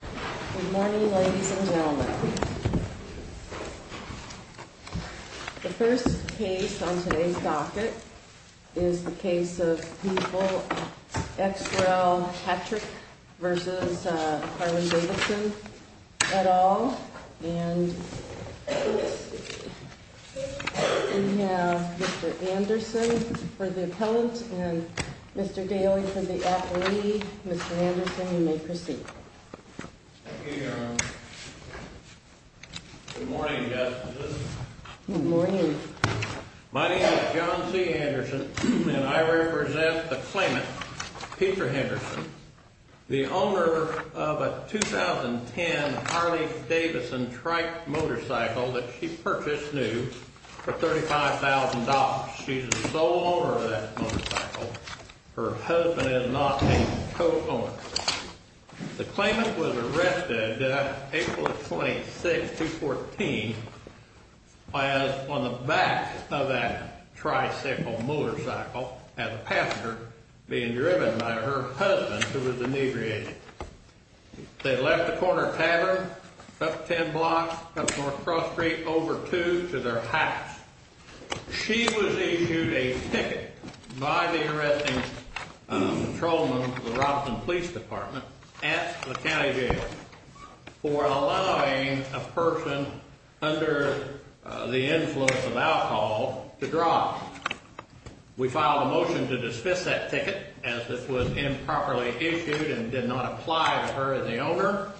Good morning, ladies and gentlemen. The first case on today's docket is the case of people ex rel. Patrick v. Harley-Davidson et al. And we have Mr. Anderson for the appellant and Mr. Daley for the appellee. Mr. Anderson, you may proceed. Thank you, Your Honor. Good morning, justices. Good morning. My name is John C. Anderson, and I represent the claimant, Peter Henderson, the owner of a 2010 Harley-Davidson trike motorcycle that she purchased new for $35,000. She's the sole owner of that motorcycle. Her husband is not a co-owner. The claimant was arrested April 26, 2014, was on the back of that tricycle motorcycle as a passenger being driven by her husband, who was a neighbor agent. They left the corner of Tavern, up 10 blocks, up North Cross Street, over 2, to their house. She was issued a ticket by the arresting patrolman of the Robinson Police Department at the county jail for allowing a person under the influence of alcohol to drive. We filed a motion to dismiss that ticket, as this was improperly issued and did not apply to her as the owner.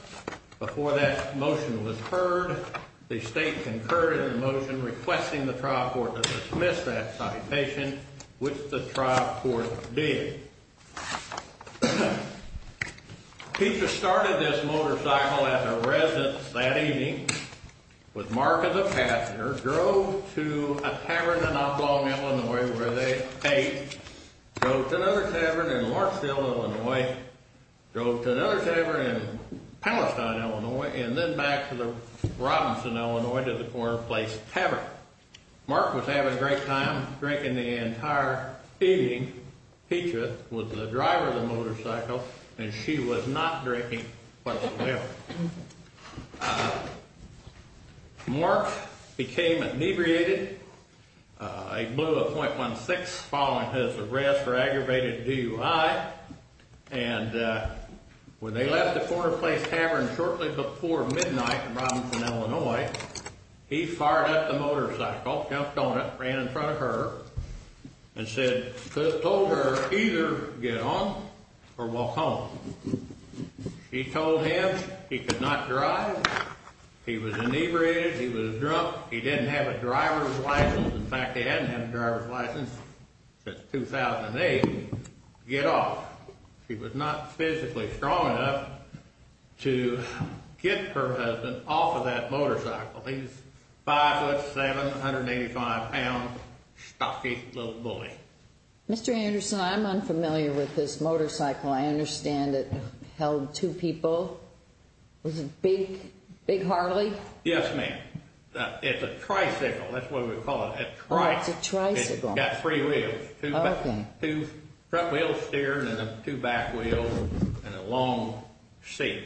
Before that motion was heard, the state concurred in the motion requesting the trial court to dismiss that citation, which the trial court did. Peter started this motorcycle as a residence that evening, was marked as a passenger, drove to a tavern in Uplong, Illinois, where they ate, drove to another tavern in Larksville, Illinois, drove to another tavern in Palestine, Illinois, and then back to the Robinson, Illinois, to the Corner Place Tavern. Mark was having a great time drinking the entire evening. Petra was the driver of the motorcycle, and she was not drinking whatsoever. Mark became inebriated. He blew a .16 following his arrest for aggravated DUI, and when they left the Corner Place Tavern shortly before midnight in Robinson, Illinois, he fired up the motorcycle, jumped on it, ran in front of her, and said, told her, either get on or walk home. She told him he could not drive, he was inebriated, he was drunk, he didn't have a driver's license. In fact, he hadn't had a driver's license since 2008. Get off. She was not physically strong enough to get her husband off of that motorcycle. He was 5'7", 185 pounds, stocky little bully. Mr. Anderson, I'm unfamiliar with this motorcycle. I understand it held two people. Was it Big Harley? Yes, ma'am. It's a tricycle, that's what we would call it. Oh, it's a tricycle. It's got three wheels. Okay. Two front wheels steering and two back wheels and a long seat.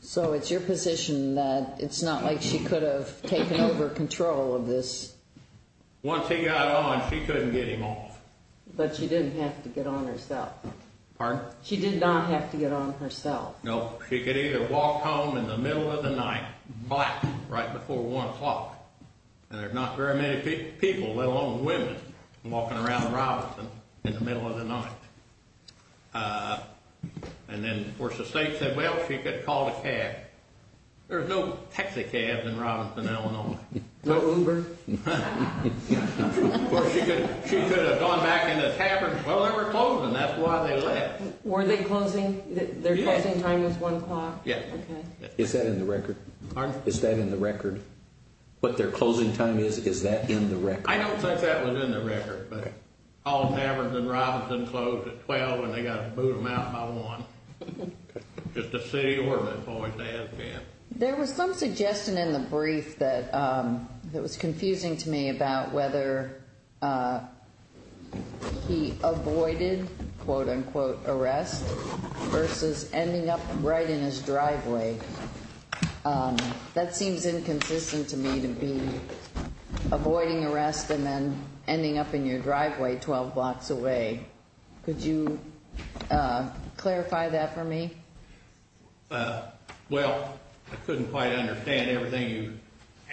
So it's your position that it's not like she could have taken over control of this? Once he got on, she couldn't get him off. But she didn't have to get on herself. Pardon? She did not have to get on herself. No. She could either walk home in the middle of the night, black, right before 1 o'clock, and there's not very many people, let alone women, walking around Robinson in the middle of the night. And then, of course, the state said, well, she could have called a cab. There's no taxi cabs in Robinson, Illinois. No Uber? Or she could have gone back in the tavern. Well, they were closing. That's why they left. Were they closing? Their closing time was 1 o'clock? Yes. Okay. Is that in the record? Pardon? Is that in the record? What their closing time is, is that in the record? I don't think that was in the record, but all taverns in Robinson closed at 12 and they got to move them out by 1 just to see where the boys' dads went. There was some suggestion in the brief that was confusing to me about whether he avoided, quote, unquote, arrest versus ending up right in his driveway. That seems inconsistent to me to be avoiding arrest and then ending up in your driveway 12 blocks away. Could you clarify that for me? Well, I couldn't quite understand everything you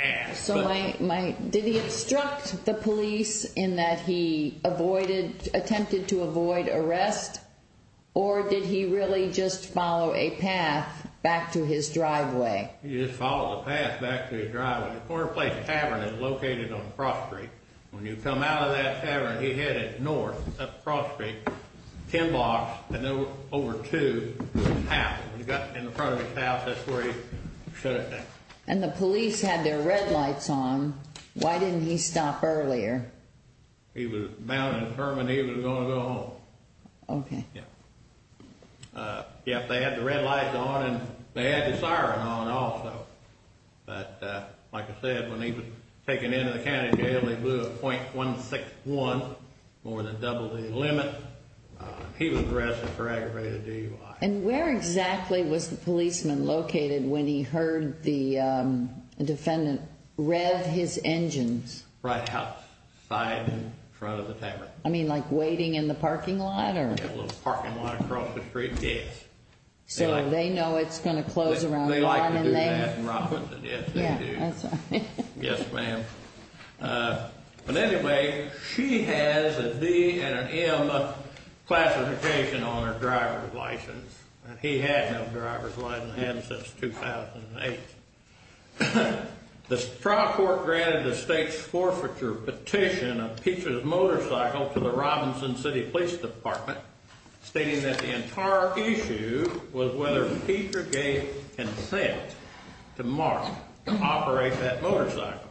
asked. Did he obstruct the police in that he attempted to avoid arrest or did he really just follow a path back to his driveway? He just followed a path back to his driveway. The corner place tavern is located on Cross Street. When you come out of that tavern, he headed north up Cross Street, 10 blocks, and there were over two houses. When he got in front of his house, that's where he shut it down. And the police had their red lights on. Why didn't he stop earlier? He was bound and determined he was going to go home. Okay. Yep, they had the red lights on and they had the siren on also. But like I said, when he was taken into the county jail, they blew a .161, more than double the limit. He was arrested for aggravated DUI. And where exactly was the policeman located when he heard the defendant rev his engines? Right outside in front of the tavern. I mean like waiting in the parking lot? Yeah, a little parking lot across the street, yes. So they know it's going to close around 1 and they? They like to do that in Robinson. Yes, they do. Yes, ma'am. But anyway, she has a D and an M classification on her driver's license. He had no driver's license, hadn't since 2008. The trial court granted the state's forfeiture petition of Peter's motorcycle to the Robinson City Police Department, stating that the entire issue was whether Peter gave consent to Mark to operate that motorcycle.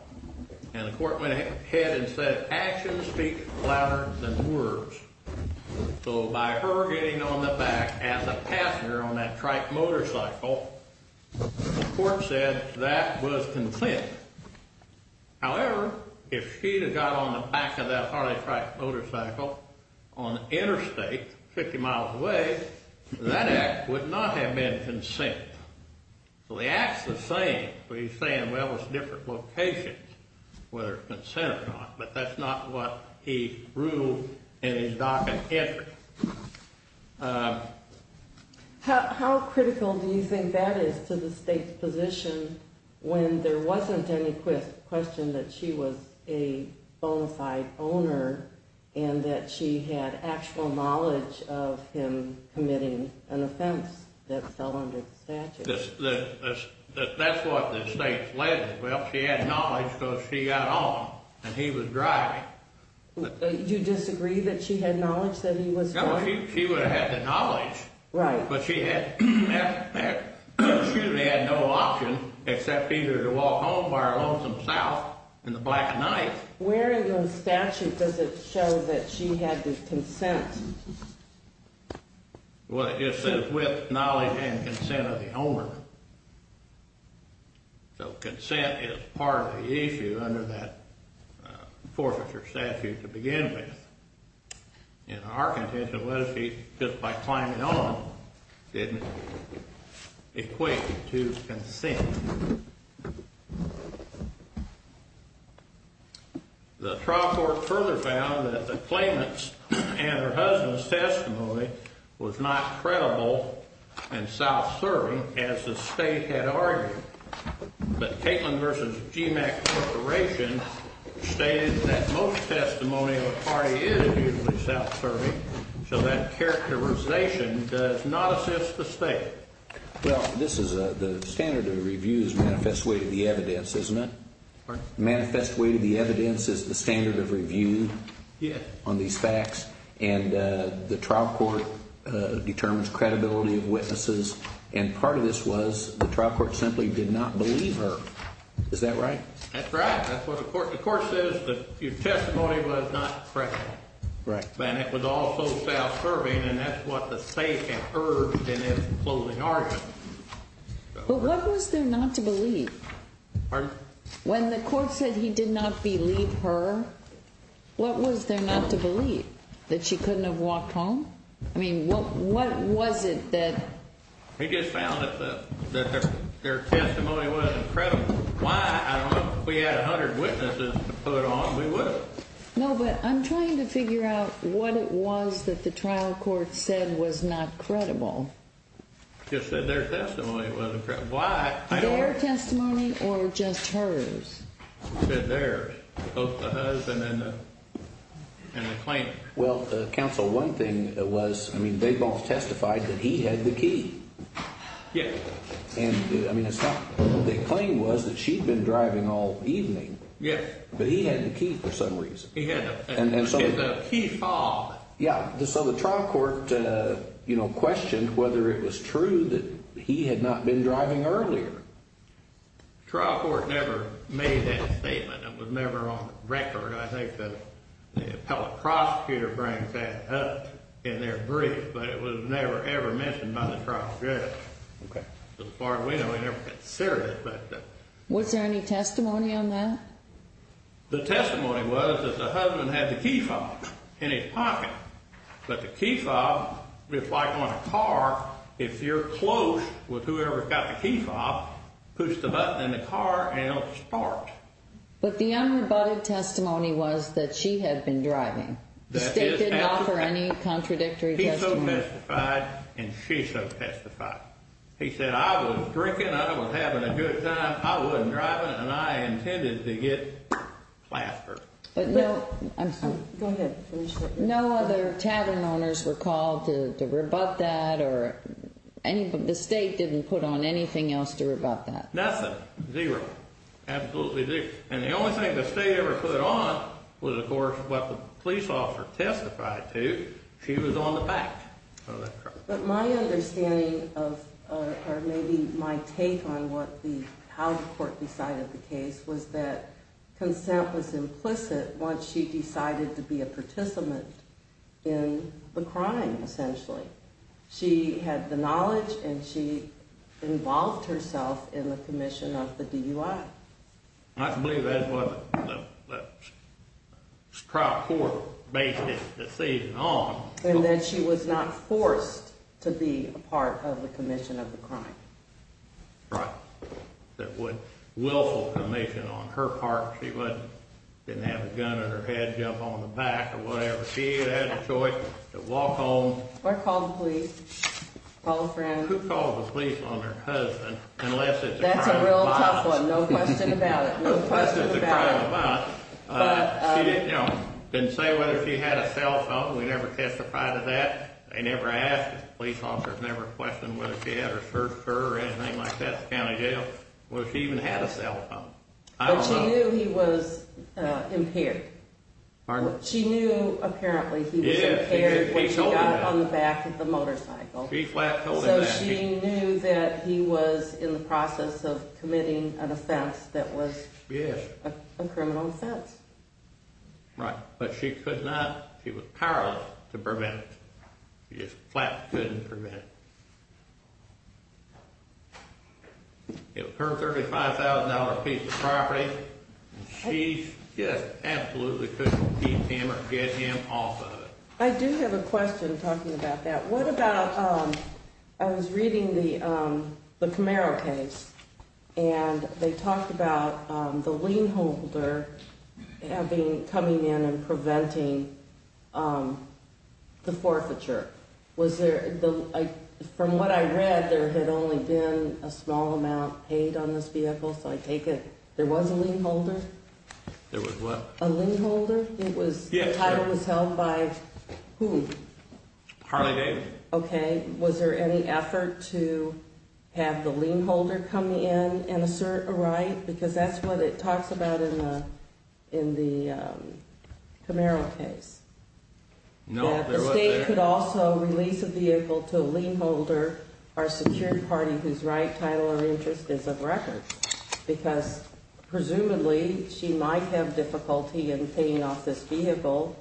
And the court went ahead and said, actions speak louder than words. So by her getting on the back as a passenger on that trike motorcycle, the court said that was consent. However, if she had got on the back of that Harley trike motorcycle on interstate, 50 miles away, that act would not have been consent. So the act's the same, but he's saying, well, it's different locations, whether it's consent or not. But that's not what he ruled in his docket entry. How critical do you think that is to the state's position when there wasn't any question that she was a bona fide owner and that she had actual knowledge of him committing an offense that fell under the statute? That's what the state's led to. Well, she had knowledge because she got on and he was driving. Do you disagree that she had knowledge that he was driving? No, she would have had the knowledge. Right. But she had no option except either to walk home by her lonesome self in the black night. Where in the statute does it show that she had the consent? Well, it says with knowledge and consent of the owner. So consent is part of the issue under that forfeiture statute to begin with. In our contention, what if she just by climbing on didn't equate to consent? The trial court further found that the claimant's and her husband's testimony was not credible and self-serving as the state had argued. But Katelyn v. GMAC Corporation stated that most testimony of a party is usually self-serving, so that characterization does not assist the state. Well, the standard of review is manifest way to the evidence, isn't it? Manifest way to the evidence is the standard of review on these facts, and the trial court determines credibility of witnesses, and part of this was the trial court simply did not believe her. Is that right? That's right. The court says that your testimony was not credible, and it was also self-serving, and that's what the state had urged in its closing argument. But what was there not to believe? Pardon? When the court said he did not believe her, what was there not to believe, that she couldn't have walked home? I mean, what was it that? He just found that their testimony was incredible. Why? I don't know. If we had 100 witnesses to put on, we would. No, but I'm trying to figure out what it was that the trial court said was not credible. Just said their testimony was incredible. Why? Their testimony or just hers? She said theirs, both the hers and the claim. Well, counsel, one thing was, I mean, Baybaugh testified that he had the key. Yes. And, I mean, the claim was that she'd been driving all evening. Yes. But he had the key for some reason. He had the key fob. Yes. So the trial court, you know, questioned whether it was true that he had not been driving earlier. The trial court never made that statement. It was never on the record. I think the appellate prosecutor brings that up in their brief, but it was never, ever mentioned by the trial judge. Okay. As far as we know, he never considered it. Was there any testimony on that? The testimony was that the husband had the key fob in his pocket, but the key fob, just like on a car, if you're close with whoever's got the key fob, push the button in the car and it'll start. But the unrebutted testimony was that she had been driving. The state didn't offer any contradictory testimony. He so testified and she so testified. He said, I was drinking, I was having a good time, I wasn't driving, and I intended to get plastered. But no other tavern owners were called to rebut that, or the state didn't put on anything else to rebut that? Nothing. Zero. Absolutely zero. And the only thing the state ever put on was, of course, what the police officer testified to. She was on the back of the truck. But my understanding, or maybe my take on how the court decided the case, was that consent was implicit once she decided to be a participant in the crime, essentially. She had the knowledge and she involved herself in the commission of the DUI. I believe that's what the trial court based it on. And that she was not forced to be a part of the commission of the crime. Right. A willful commission on her part. She didn't have a gun in her head, jump on the back or whatever. She had had a choice to walk home. Or call the police. Call a friend. Who calls the police on their husband unless it's a crime of violence? That's a real tough one. No question about it. No question about it. Unless it's a crime of violence. She didn't say whether she had a cell phone. We never testified to that. They never asked. The police officer never questioned whether she had or searched her or anything like that at the county jail. Whether she even had a cell phone. But she knew he was impaired. Pardon? She knew, apparently, he was impaired when she got on the back of the motorcycle. She flat-told him that. That he was in the process of committing an offense that was a criminal offense. Right. But she could not, she was powerless to prevent it. She just flat couldn't prevent it. It was her $35,000 piece of property. She just absolutely couldn't keep him or get him off of it. I do have a question talking about that. What about, I was reading the Camaro case. And they talked about the lien holder coming in and preventing the forfeiture. Was there, from what I read, there had only been a small amount paid on this vehicle. So I take it there was a lien holder? There was what? A lien holder? The title was held by who? Harley-David. Okay. Was there any effort to have the lien holder come in and assert a right? Because that's what it talks about in the Camaro case. No, there wasn't. That the state could also release a vehicle to a lien holder or secured party whose right, title, or interest is of record. Because, presumably, she might have difficulty in paying off this vehicle,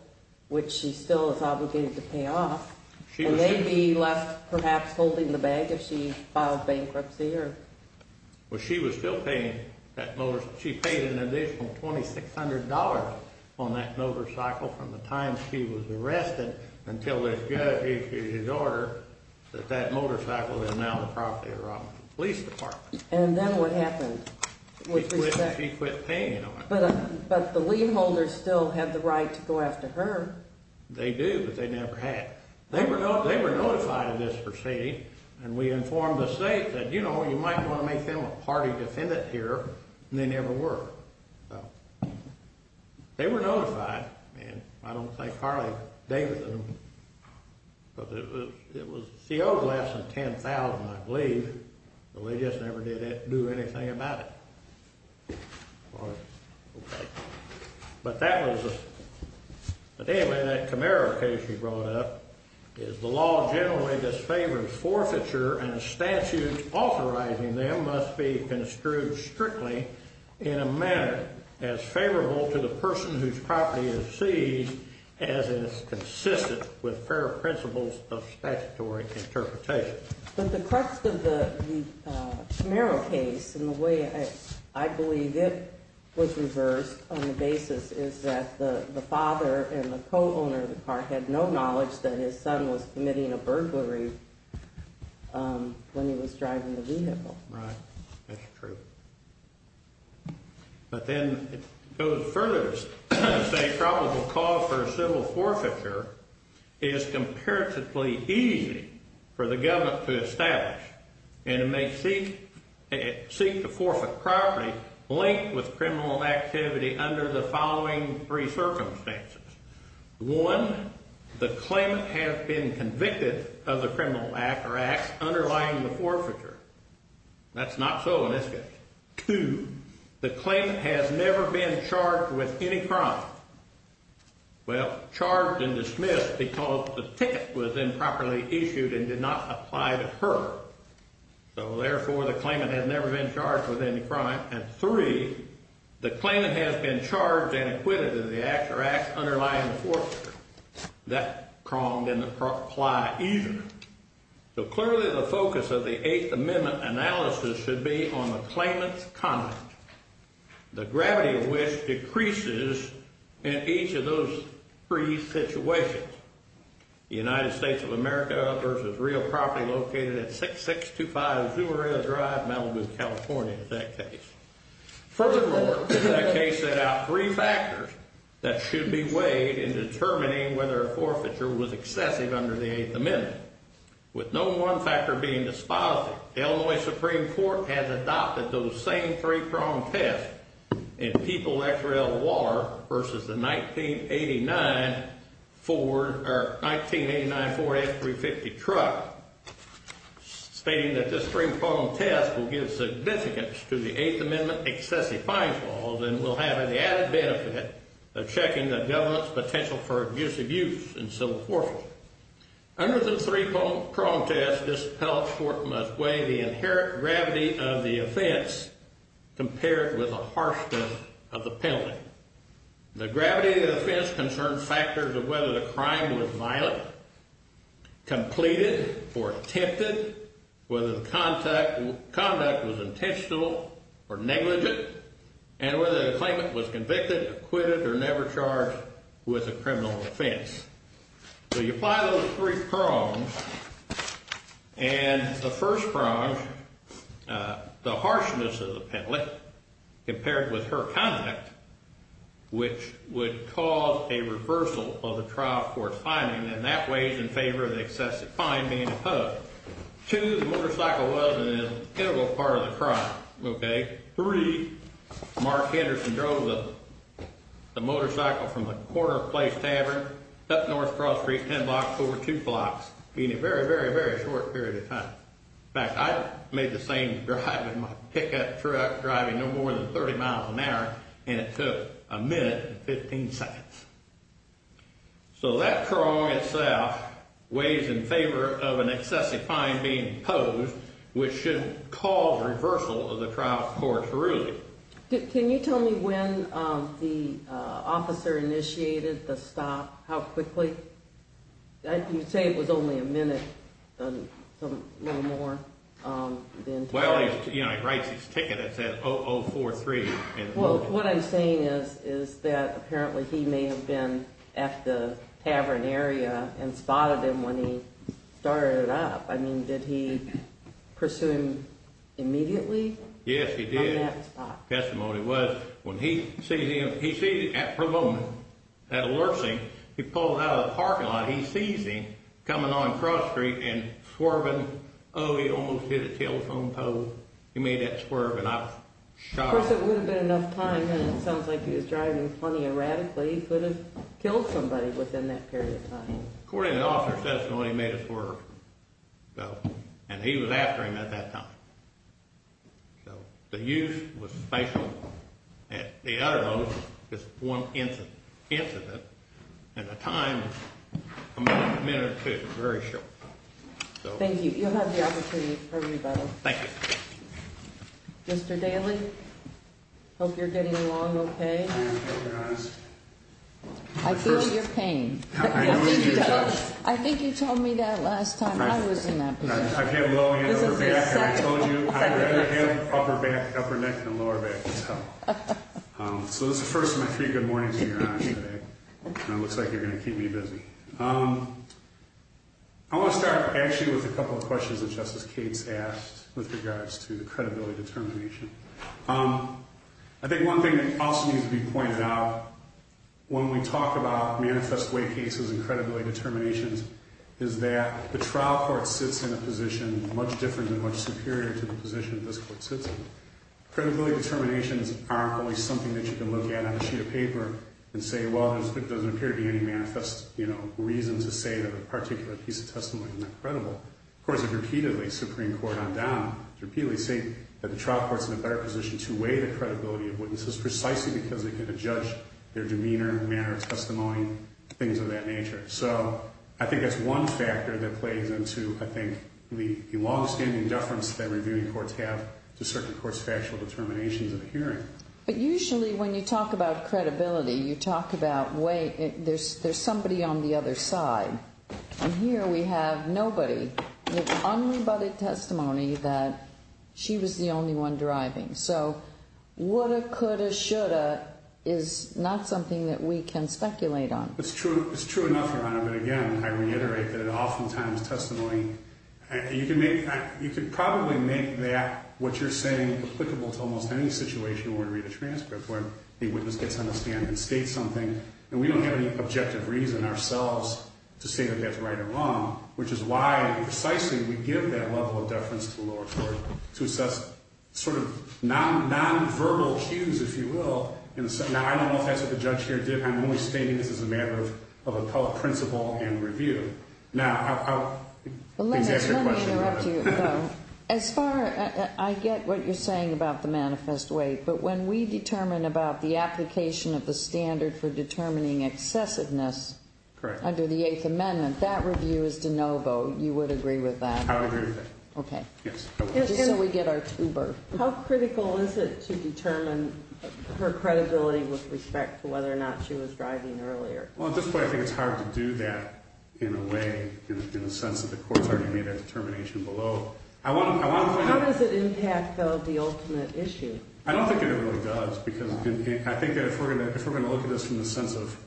which she still is obligated to pay off. And they'd be left, perhaps, holding the bag if she filed bankruptcy. Well, she was still paying that motorcycle. She paid an additional $2,600 on that motorcycle from the time she was arrested until the judge issued his order that that motorcycle is now the property of Rockland Police Department. And then what happened? She quit paying on it. But the lien holders still have the right to go after her. They do, but they never had. They were notified of this proceeding, and we informed the state that, you know, you might want to make them a party defendant here, and they never were. They were notified, and I don't think Carly Davidson, because it was CO less than $10,000, I believe, but they just never did do anything about it. But anyway, that Camaro case you brought up is the law generally disfavors forfeiture, and a statute authorizing them must be construed strictly in a manner as favorable to the person whose property is seized as is consistent with fair principles of statutory interpretation. But the crux of the Camaro case and the way I believe it was reversed on the basis is that the father and the co-owner of the car had no knowledge that his son was committing a burglary when he was driving the vehicle. Right. That's true. But then it goes further to say probable cause for civil forfeiture is comparatively easy for the government to establish, and it may seek to forfeit property linked with criminal activity under the following three circumstances. One, the claimant has been convicted of the criminal act or acts underlying the forfeiture. That's not so in this case. Two, the claimant has never been charged with any crime. Well, charged and dismissed because the ticket was improperly issued and did not apply to her. So, therefore, the claimant has never been charged with any crime. And three, the claimant has been charged and acquitted of the act or acts underlying the forfeiture. That pronged in the ply easier. So, clearly, the focus of the Eighth Amendment analysis should be on the claimant's conduct, the gravity of which decreases in each of those three situations. The United States of America versus real property located at 6625 Azurillo Drive, Malibu, California, in that case. Furthermore, that case set out three factors that should be weighed in determining whether a forfeiture was excessive under the Eighth Amendment. With no one factor being dispositive, the Illinois Supreme Court has adopted those same three-pronged tests in People-X-Rail-Waller versus the 1989 Ford F-350 truck, stating that this three-pronged test will give significance to the Eighth Amendment excessive fines laws and will have an added benefit of checking the government's potential for abusive use in civil forfeiture. Under the three-pronged test, this penalty court must weigh the inherent gravity of the offense compared with the harshness of the penalty. The gravity of the offense concerns factors of whether the crime was violent, completed, or attempted, whether the conduct was intentional or negligent, and whether the claimant was convicted, acquitted, or never charged with a criminal offense. So you apply those three prongs, and the first prong, the harshness of the penalty compared with her conduct, which would cause a reversal of the trial court's finding, and that weighs in favor of the excessive fine being imposed. Two, the motorcycle wasn't an integral part of the crime, okay? Three, Mark Henderson drove the motorcycle from the Corner Place Tavern up North Cross Street ten blocks over two blocks in a very, very, very short period of time. In fact, I made the same drive with my pickup truck driving no more than 30 miles an hour, and it took a minute and 15 seconds. So that prong itself weighs in favor of an excessive fine being imposed, which should cause reversal of the trial court's ruling. Can you tell me when the officer initiated the stop, how quickly? You say it was only a minute, a little more than today. Well, you know, he writes his ticket, it said 0043. Well, what I'm saying is that apparently he may have been at the tavern area and spotted him when he started it up. I mean, did he pursue him immediately? Yes, he did. By that spot. That's what it was. When he sees him, he sees it at her moment, that alerts him. He pulls out of the parking lot, he sees him coming on Cross Street and swerving. Oh, he almost hit a telephone pole. He made that swerve, and I was shocked. Of course, it would have been enough time, and it sounds like he was driving plenty erratically. He could have killed somebody within that period of time. According to the officer's testimony, he made a swerve. And he was after him at that time. So the use was spatial. At the uttermost, it's one incident. And the time, a minute or two, very short. Thank you. You'll have the opportunity for revising. Thank you. Mr. Daley, I hope you're getting along okay. I am, Your Honor. I feel your pain. I know you do. I think you told me that last time I was in that position. I've had low head, upper back, and I told you, I have upper back, upper neck, and a lower back as well. So this is the first of my three good mornings, Your Honor, today. And it looks like you're going to keep me busy. I want to start, actually, with a couple of questions that Justice Cates asked with regards to the credibility determination. I think one thing that also needs to be pointed out when we talk about manifest way cases and credibility determinations is that the trial court sits in a position much different and much superior to the position that this court sits in. Credibility determinations aren't always something that you can look at on a sheet of paper and say, well, there doesn't appear to be any manifest reason to say that a particular piece of testimony is not credible. Of course, if repeatedly, Supreme Court on down repeatedly say that the trial court's in a better position to weigh the credibility of witnesses precisely because they can judge their demeanor, manner of testimony, things of that nature. So I think that's one factor that plays into, I think, the longstanding deference that reviewing courts have to certain courts' factual determinations in a hearing. But usually when you talk about credibility, you talk about, wait, there's somebody on the other side. And here we have nobody with unrebutted testimony that she was the only one driving. So woulda, coulda, shoulda is not something that we can speculate on. It's true. It's true enough, Your Honor, but again, I reiterate that oftentimes testimony, you can probably make that what you're saying applicable to almost any situation where we read a transcript, where the witness gets on the stand and states something. And we don't have any objective reason ourselves to say that that's right or wrong, which is why precisely we give that level of deference to the lower court to assess sort of nonverbal cues, if you will. Now, I don't know if that's what the judge here did. I'm only stating this as a matter of appellate principle and review. Now, I'll answer your question. Let me interrupt you, though. As far as I get what you're saying about the manifest weight, but when we determine about the application of the standard for determining excessiveness under the Eighth Amendment, that review is de novo. You would agree with that? I would agree with that. Okay. Just so we get our two bird. How critical is it to determine her credibility with respect to whether or not she was driving earlier? Well, at this point, I think it's hard to do that in a way, in the sense that the court's already made that determination below. How does it impact, though, the ultimate issue? I don't think that it really does, because I think that if we're going to look at this from the sense of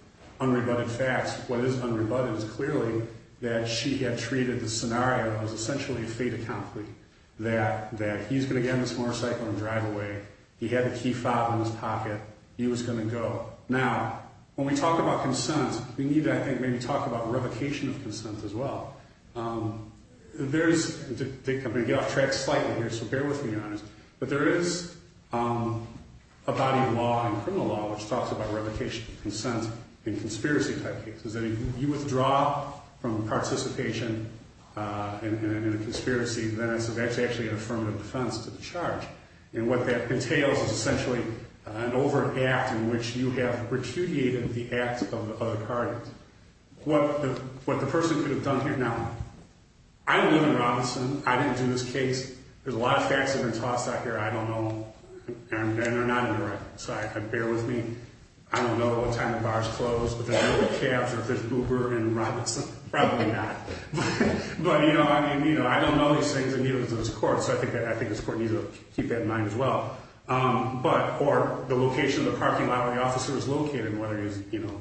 unrebutted facts, what is unrebutted is clearly that she had treated the scenario as essentially a fait accompli, that he's going to get in this motorcycle and drive away. He had the key five in his pocket. He was going to go. Now, when we talk about consent, we need to, I think, maybe talk about revocation of consent as well. I'm going to get off track slightly here, so bear with me on this, but there is a body of law in criminal law which talks about revocation of consent in conspiracy-type cases, that if you withdraw from participation in a conspiracy, then that's actually an affirmative defense to the charge. And what that entails is essentially an over-act in which you have repudiated the act of the other parties. What the person could have done here, now, I live in Robinson. I didn't do this case. There's a lot of facts that have been tossed out here I don't know, and they're not in the record, so bear with me. I don't know what time the bar is closed, but I know what cabs are if there's Uber in Robinson. Probably not, but, you know, I mean, you know, I don't know these things and neither does this court, so I think this court needs to keep that in mind as well. But or the location of the parking lot where the officer is located and whether he's, you know,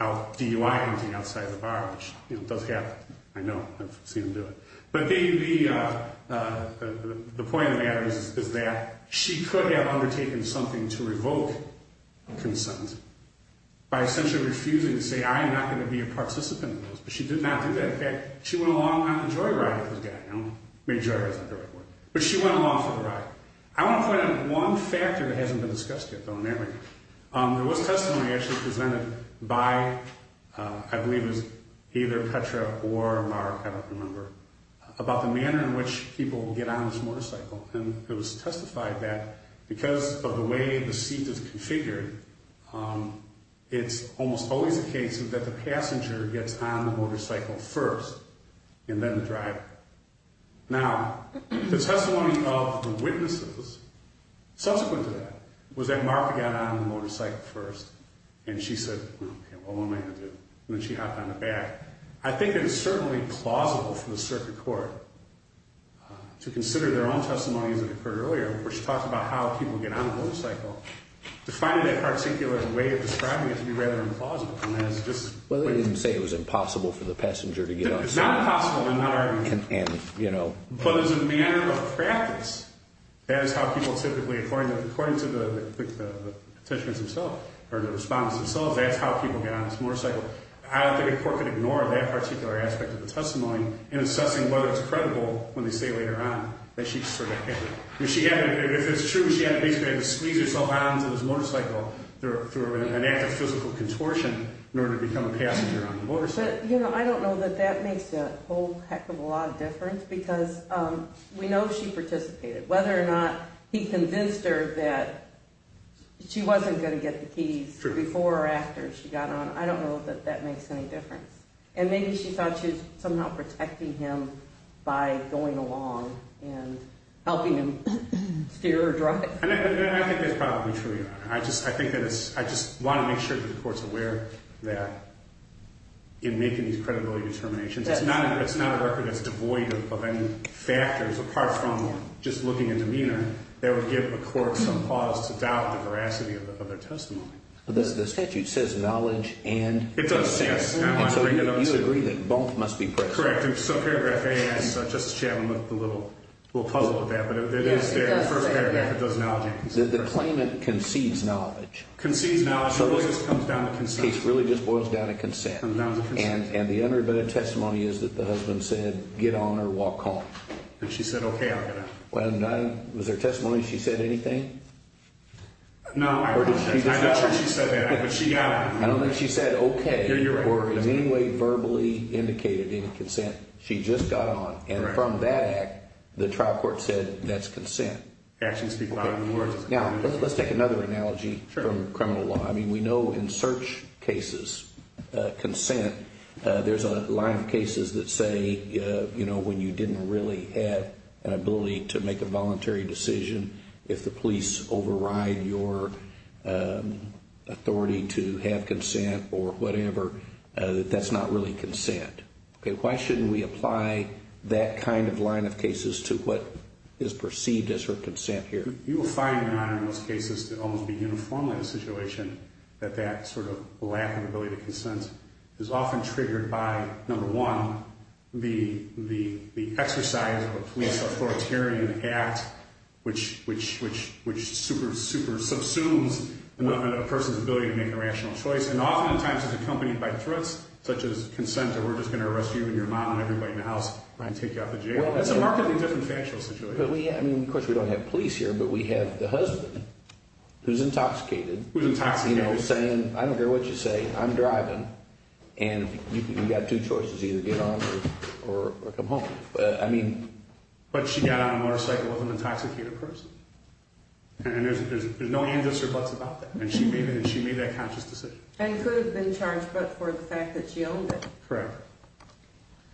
out DUI-ing outside the bar, which does happen. I know. I've seen him do it. But the point of the matter is that she could have undertaken something to revoke consent by essentially refusing to say, I am not going to be a participant in those, but she did not do that. In fact, she went along on a joyride with this guy. Maybe joyride is not the right word, but she went along for the ride. I want to point out one factor that hasn't been discussed yet, though, in that regard. There was testimony actually presented by, I believe it was either Petra or Mar, I don't remember, about the manner in which people get on this motorcycle, and it was testified that because of the way the seat is configured, it's almost always the case that the passenger gets on the motorcycle first and then the driver. Now, the testimony of the witnesses subsequent to that was that Mar got on the motorcycle first, and she said, okay, well, what am I going to do? And then she hopped on the back. I think it is certainly plausible for the circuit court to consider their own testimonies that occurred earlier where she talked about how people get on a motorcycle, to find that particular way of describing it to be rather implausible. Well, they didn't say it was impossible for the passenger to get on. It's not impossible. But as a matter of practice, that is how people typically, according to the participants themselves or the respondents themselves, that's how people get on this motorcycle. I don't think a court could ignore that particular aspect of the testimony in assessing whether it's credible when they say later on that she sort of had it. If it's true, she had to basically squeeze herself onto this motorcycle through an act of physical contortion in order to become a passenger on the motorcycle. You know, I don't know that that makes a whole heck of a lot of difference because we know she participated. Whether or not he convinced her that she wasn't going to get the keys before or after she got on, I don't know that that makes any difference. And maybe she thought she was somehow protecting him by going along and helping him steer or drive. I think that's probably true, Your Honor. I just want to make sure that the court's aware that in making these credibility determinations, it's not a record that's devoid of any factors apart from just looking at demeanor that would give a court some cause to doubt the veracity of their testimony. The statute says knowledge and assessment. It does, yes. And so you agree that both must be present. Correct. In paragraph A, Justice Chatelain looked a little puzzled with that, but it is there in the first paragraph that does knowledge and assessment. The claimant concedes knowledge. Concedes knowledge. It really just boils down to consent. It really just boils down to consent. And the unerbited testimony is that the husband said, get on or walk home. And she said, okay, I'll get on. Was there testimony she said anything? No. I'm not sure she said that, but she got on. I don't think she said, okay, or in any way verbally indicated any consent. She just got on. And from that act, the trial court said that's consent. Actions speak louder than words. Now, let's take another analogy from criminal law. I mean, we know in search cases, consent, there's a line of cases that say, you know, when you didn't really have an ability to make a voluntary decision, if the police override your authority to have consent or whatever, that that's not really consent. Okay. Why shouldn't we apply that kind of line of cases to what is perceived as her consent here? You will find in a lot of those cases that almost be uniformly the situation, that that sort of lack of ability to consent is often triggered by, number one, the exercise of a police authoritarian act, which super, super subsumes a person's ability to make a rational choice and oftentimes is accompanied by threats such as consent or we're just going to arrest you and your mom and everybody in the house and take you out of the jail. It's a markedly different factual situation. But we, I mean, of course we don't have police here, but we have the husband who's intoxicated. Who's intoxicated. You know, saying, I don't care what you say, I'm driving. And you've got two choices, either get on or come home. But, I mean. But she got on a motorcycle with an intoxicated person. And there's no ands or buts about that. And she made that conscious decision. And could have been charged but for the fact that she owned it. Correct.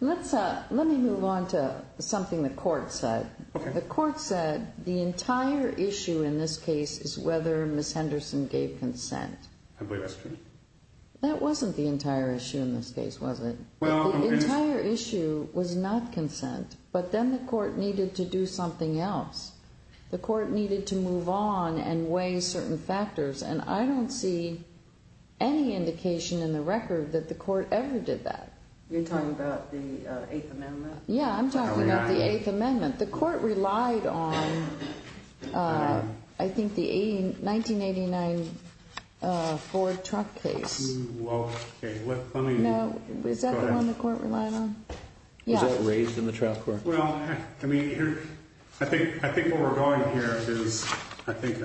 Let me move on to something the court said. The court said the entire issue in this case is whether Ms. Henderson gave consent. I believe that's true. That wasn't the entire issue in this case, was it? The entire issue was not consent. But then the court needed to do something else. The court needed to move on and weigh certain factors. And I don't see any indication in the record that the court ever did that. You're talking about the Eighth Amendment? Yeah, I'm talking about the Eighth Amendment. The court relied on, I think, the 1989 Ford truck case. Well, okay. Let me go ahead. No, is that the one the court relied on? Yeah. Was that raised in the trial court? Well, I mean, I think what we're going here is, I think,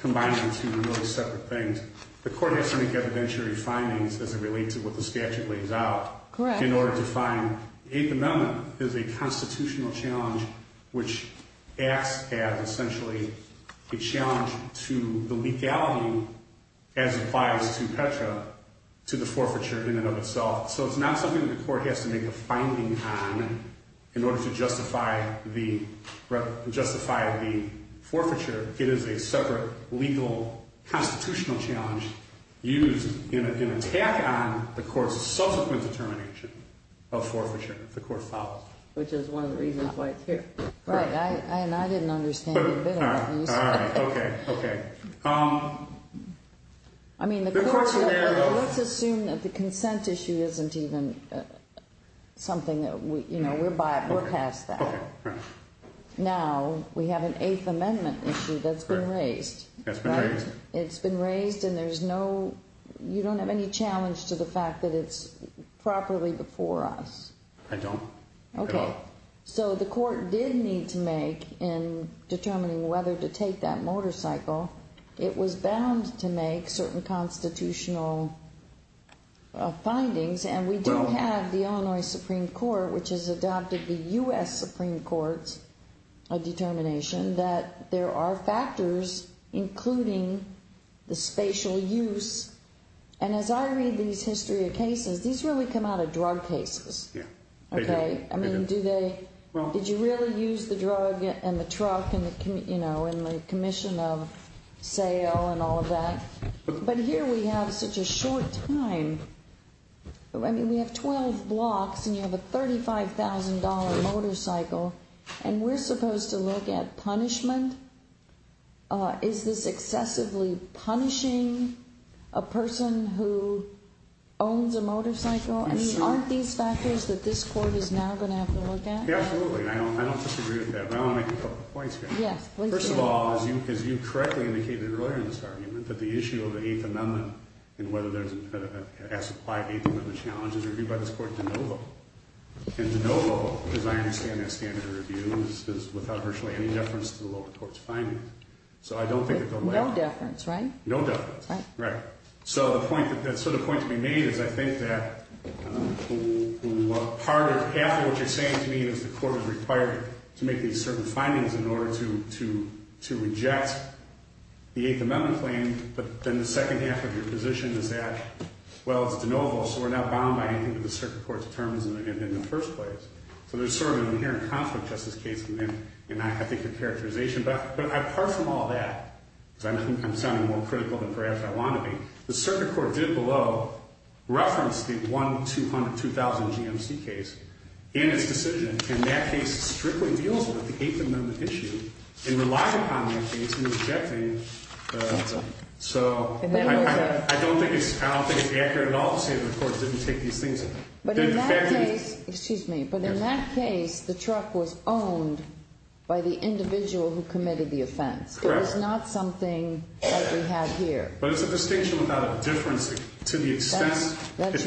combining two really separate things. The court has to make evidentiary findings as it relates to what the statute lays out. Correct. In order to find the Eighth Amendment is a constitutional challenge, which acts as, essentially, a challenge to the legality, as applies to Petra, to the forfeiture in and of itself. So it's not something that the court has to make a finding on in order to justify the forfeiture. It is a separate, legal, constitutional challenge used in an attack on the court's subsequent determination of forfeiture. The court followed. Which is one of the reasons why it's here. Right. And I didn't understand a bit of that. All right. Okay. Okay. I mean, let's assume that the consent issue isn't even something that we're past that. Okay. Right. Now, we have an Eighth Amendment issue that's been raised. That's been raised. It's been raised, and there's no, you don't have any challenge to the fact that it's properly before us. I don't. Okay. So the court did need to make, in determining whether to take that motorcycle, it was bound to make certain constitutional findings. And we do have the Illinois Supreme Court, which has adopted the U.S. Supreme Court's determination that there are factors, including the spatial use. And as I read these history of cases, these really come out of drug cases. Yeah. Okay. I mean, do they, did you really use the drug and the truck and the commission of sale and all of that? But here we have such a short time. I mean, we have 12 blocks, and you have a $35,000 motorcycle, and we're supposed to look at punishment? Is this excessively punishing a person who owns a motorcycle? I mean, aren't these factors that this court is now going to have to look at? Yeah, absolutely. And I don't disagree with that, but I want to make a couple points here. Yes, please do. First of all, as you correctly indicated earlier in this argument, that the issue of the Eighth Amendment and whether there's an as-applied Eighth Amendment challenge is reviewed by this court de novo. And de novo, as I understand that standard of review, is without virtually any deference to the lower court's finding. So I don't think it's a lack. No deference, right? No deference. Right. So the point to be made is I think that half of what you're saying to me is the court is required to make these certain findings in order to reject the Eighth Amendment claim. But then the second half of your position is that, well, it's de novo, so we're not bound by anything that the circuit court determines in the first place. So there's sort of an inherent conflict, Justice Case, in, I think, your characterization. But apart from all that, because I'm sounding more critical than perhaps I want to be, the circuit court did below reference the 1-200-2000 GMC case in its decision, and that case strictly deals with the Eighth Amendment issue and relied upon that case in rejecting it. So I don't think it's accurate at all to say that the court didn't take these things in. Excuse me. But in that case, the truck was owned by the individual who committed the offense. Correct. It was not something that we have here. But it's a distinction without a difference to the extent that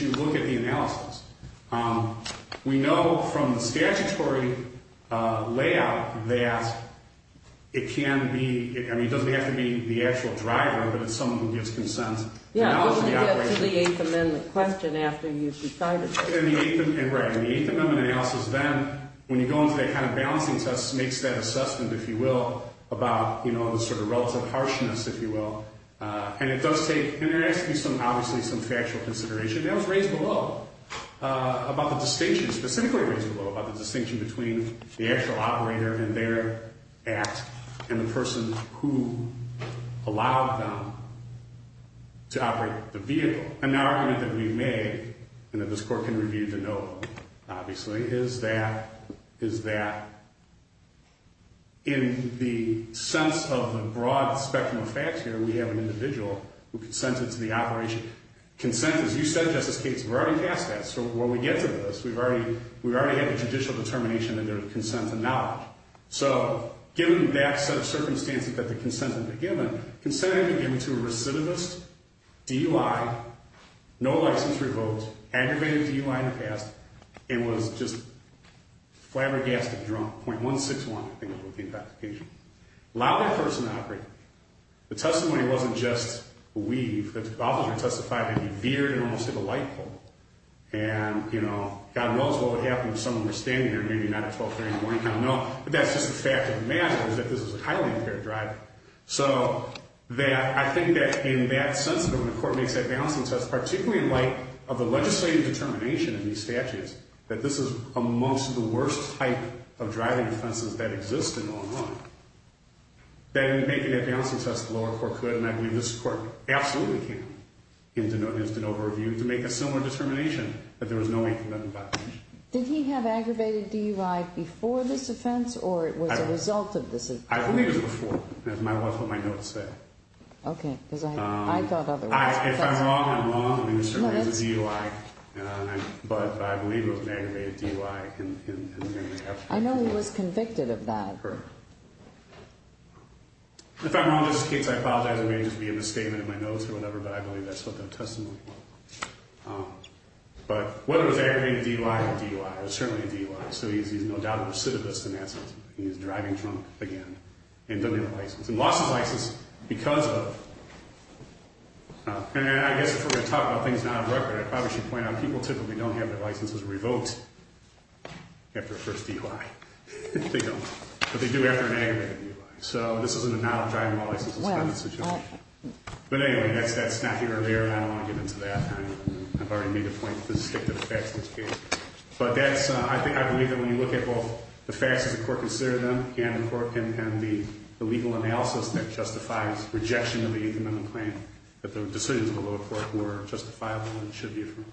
you look at the analysis. We know from the statutory layout that it can be, I mean, it doesn't have to be the actual driver, but it's someone who gives consent to analyze the operation. Yeah, but we get to the Eighth Amendment question after you've decided to. Right. In the Eighth Amendment analysis, then, when you go into that kind of balancing test, it makes that assessment, if you will, about the sort of relative harshness, if you will. And it does take, and it asks you some, obviously, some factual consideration. That was raised below about the distinction, specifically raised below about the distinction between the actual operator and their act and the person who allowed them to operate the vehicle. And the argument that we made, and that this court can review the note, obviously, is that in the sense of the broad spectrum of facts here, we have an individual who consented to the operation. Consent, as you said, Justice Cates, we're already past that. So when we get to this, we've already had the judicial determination and their consent and knowledge. So given that set of circumstances that the consent had been given, consent had been given to a recidivist, DUI, no license revoked, aggravated DUI in the past, and was just flabbergasted drunk, 0.161, I think was the application. Allowed that person to operate. The testimony wasn't just a weave. The officer testified that he veered and almost hit a light pole. And, you know, God knows what would happen if someone were standing there, maybe not at 1230 in the morning. I don't know. But that's just the fact of the matter, is that this is a highly impaired driver. So I think that in that sense, that when the court makes that balancing test, particularly in light of the legislative determination in these statutes, that this is amongst the worst type of driving offenses that exist in Illinois, that in making that balancing test, the lower court could, and I believe this court absolutely can, use de novo review to make a similar determination that there was no incident of violation. Did he have aggravated DUI before this offense, or it was a result of this offense? I believe it was before. That's what my notes say. Okay. Because I thought otherwise. If I'm wrong, I'm wrong. I mean, there certainly is a DUI. But I believe it was an aggravated DUI. I know he was convicted of that. If I'm wrong in this case, I apologize. It may just be a misstatement in my notes or whatever, but I believe that's what their testimony was. But whether it was aggravated DUI or DUI, it was certainly a DUI. So he's no doubt a recidivist in that sense. He's driving drunk again and doesn't have a license. And lost his license because of. And I guess if we're going to talk about things not on record, I probably should point out people typically don't have their licenses revoked after a first DUI. They don't. But they do after an aggravated DUI. So this is an analog driving while license is suspended situation. But anyway, that's not here or there. I don't want to get into that. I've already made a point to stick to the facts of this case. But I believe that when you look at both the facts as the court considered them, and the legal analysis that justifies rejection of the 8th Amendment plan, that the decisions of the lower court were justifiable and should be affirmed.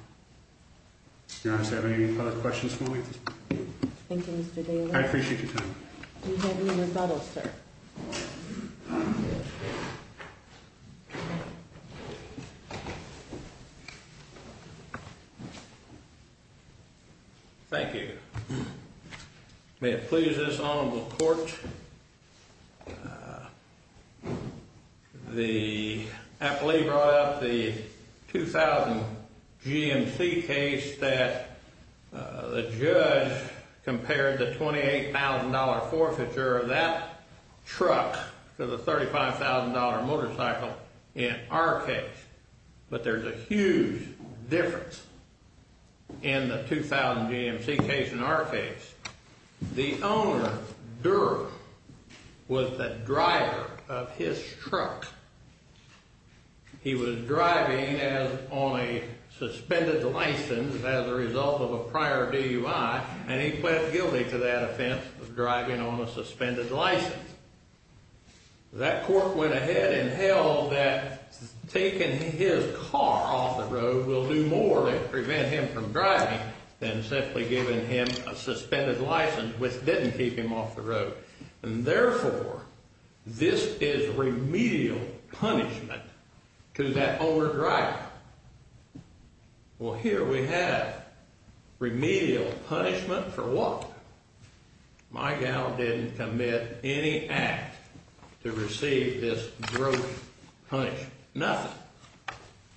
Your Honor, do you have any other questions for me? Thank you, Mr. Daly. I appreciate your time. Do you have any rebuttals, sir? Thank you. May it please this honorable court, the appellee brought up the 2000 GMC case that the judge compared the $28,000 forfeiture of that truck to the $35,000 motorcycle in our case. But there's a huge difference in the 2000 GMC case in our case. The owner, Durer, was the driver of his truck. He was driving on a suspended license as a result of a prior DUI, and he pled guilty to that offense of driving on a suspended license. That court went ahead and held that taking his car off the road will do more to prevent him from driving than simply giving him a suspended license, which didn't keep him off the road. And therefore, this is remedial punishment to that owner driver. Well, here we have remedial punishment for what? My gal didn't commit any act to receive this gross punishment. Nothing.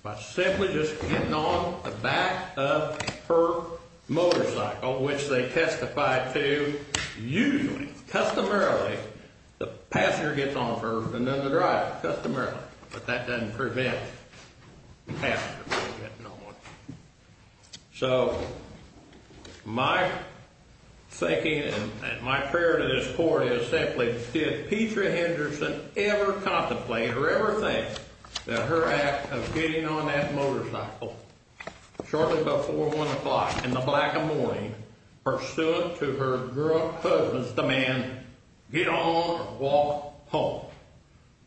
By simply just getting on the back of her motorcycle, which they testified to, usually, customarily, the passenger gets on first and then the driver, customarily. But that doesn't prevent the passenger from getting on one. So my thinking and my prayer to this court is simply, did Petra Henderson ever contemplate or ever think that her act of getting on that motorcycle shortly before 1 o'clock in the black of morning, pursuant to her husband's demand, get on or walk home,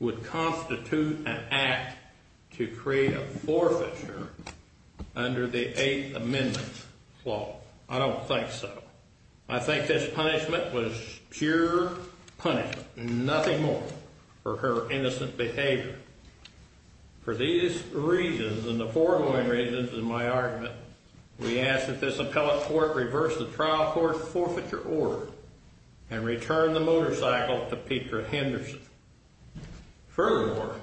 would constitute an act to create a forfeiture under the Eighth Amendment law? I don't think so. I think this punishment was pure punishment, nothing more, for her innocent behavior. For these reasons and the foregoing reasons of my argument, we ask that this appellate court reverse the trial court's forfeiture order and return the motorcycle to Petra Henderson. Furthermore,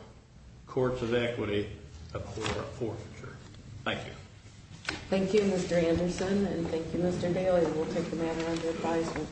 courts of equity, a court of forfeiture. Thank you. Thank you, Mr. Anderson, and thank you, Mr. Daly. We'll take the matter under advisement.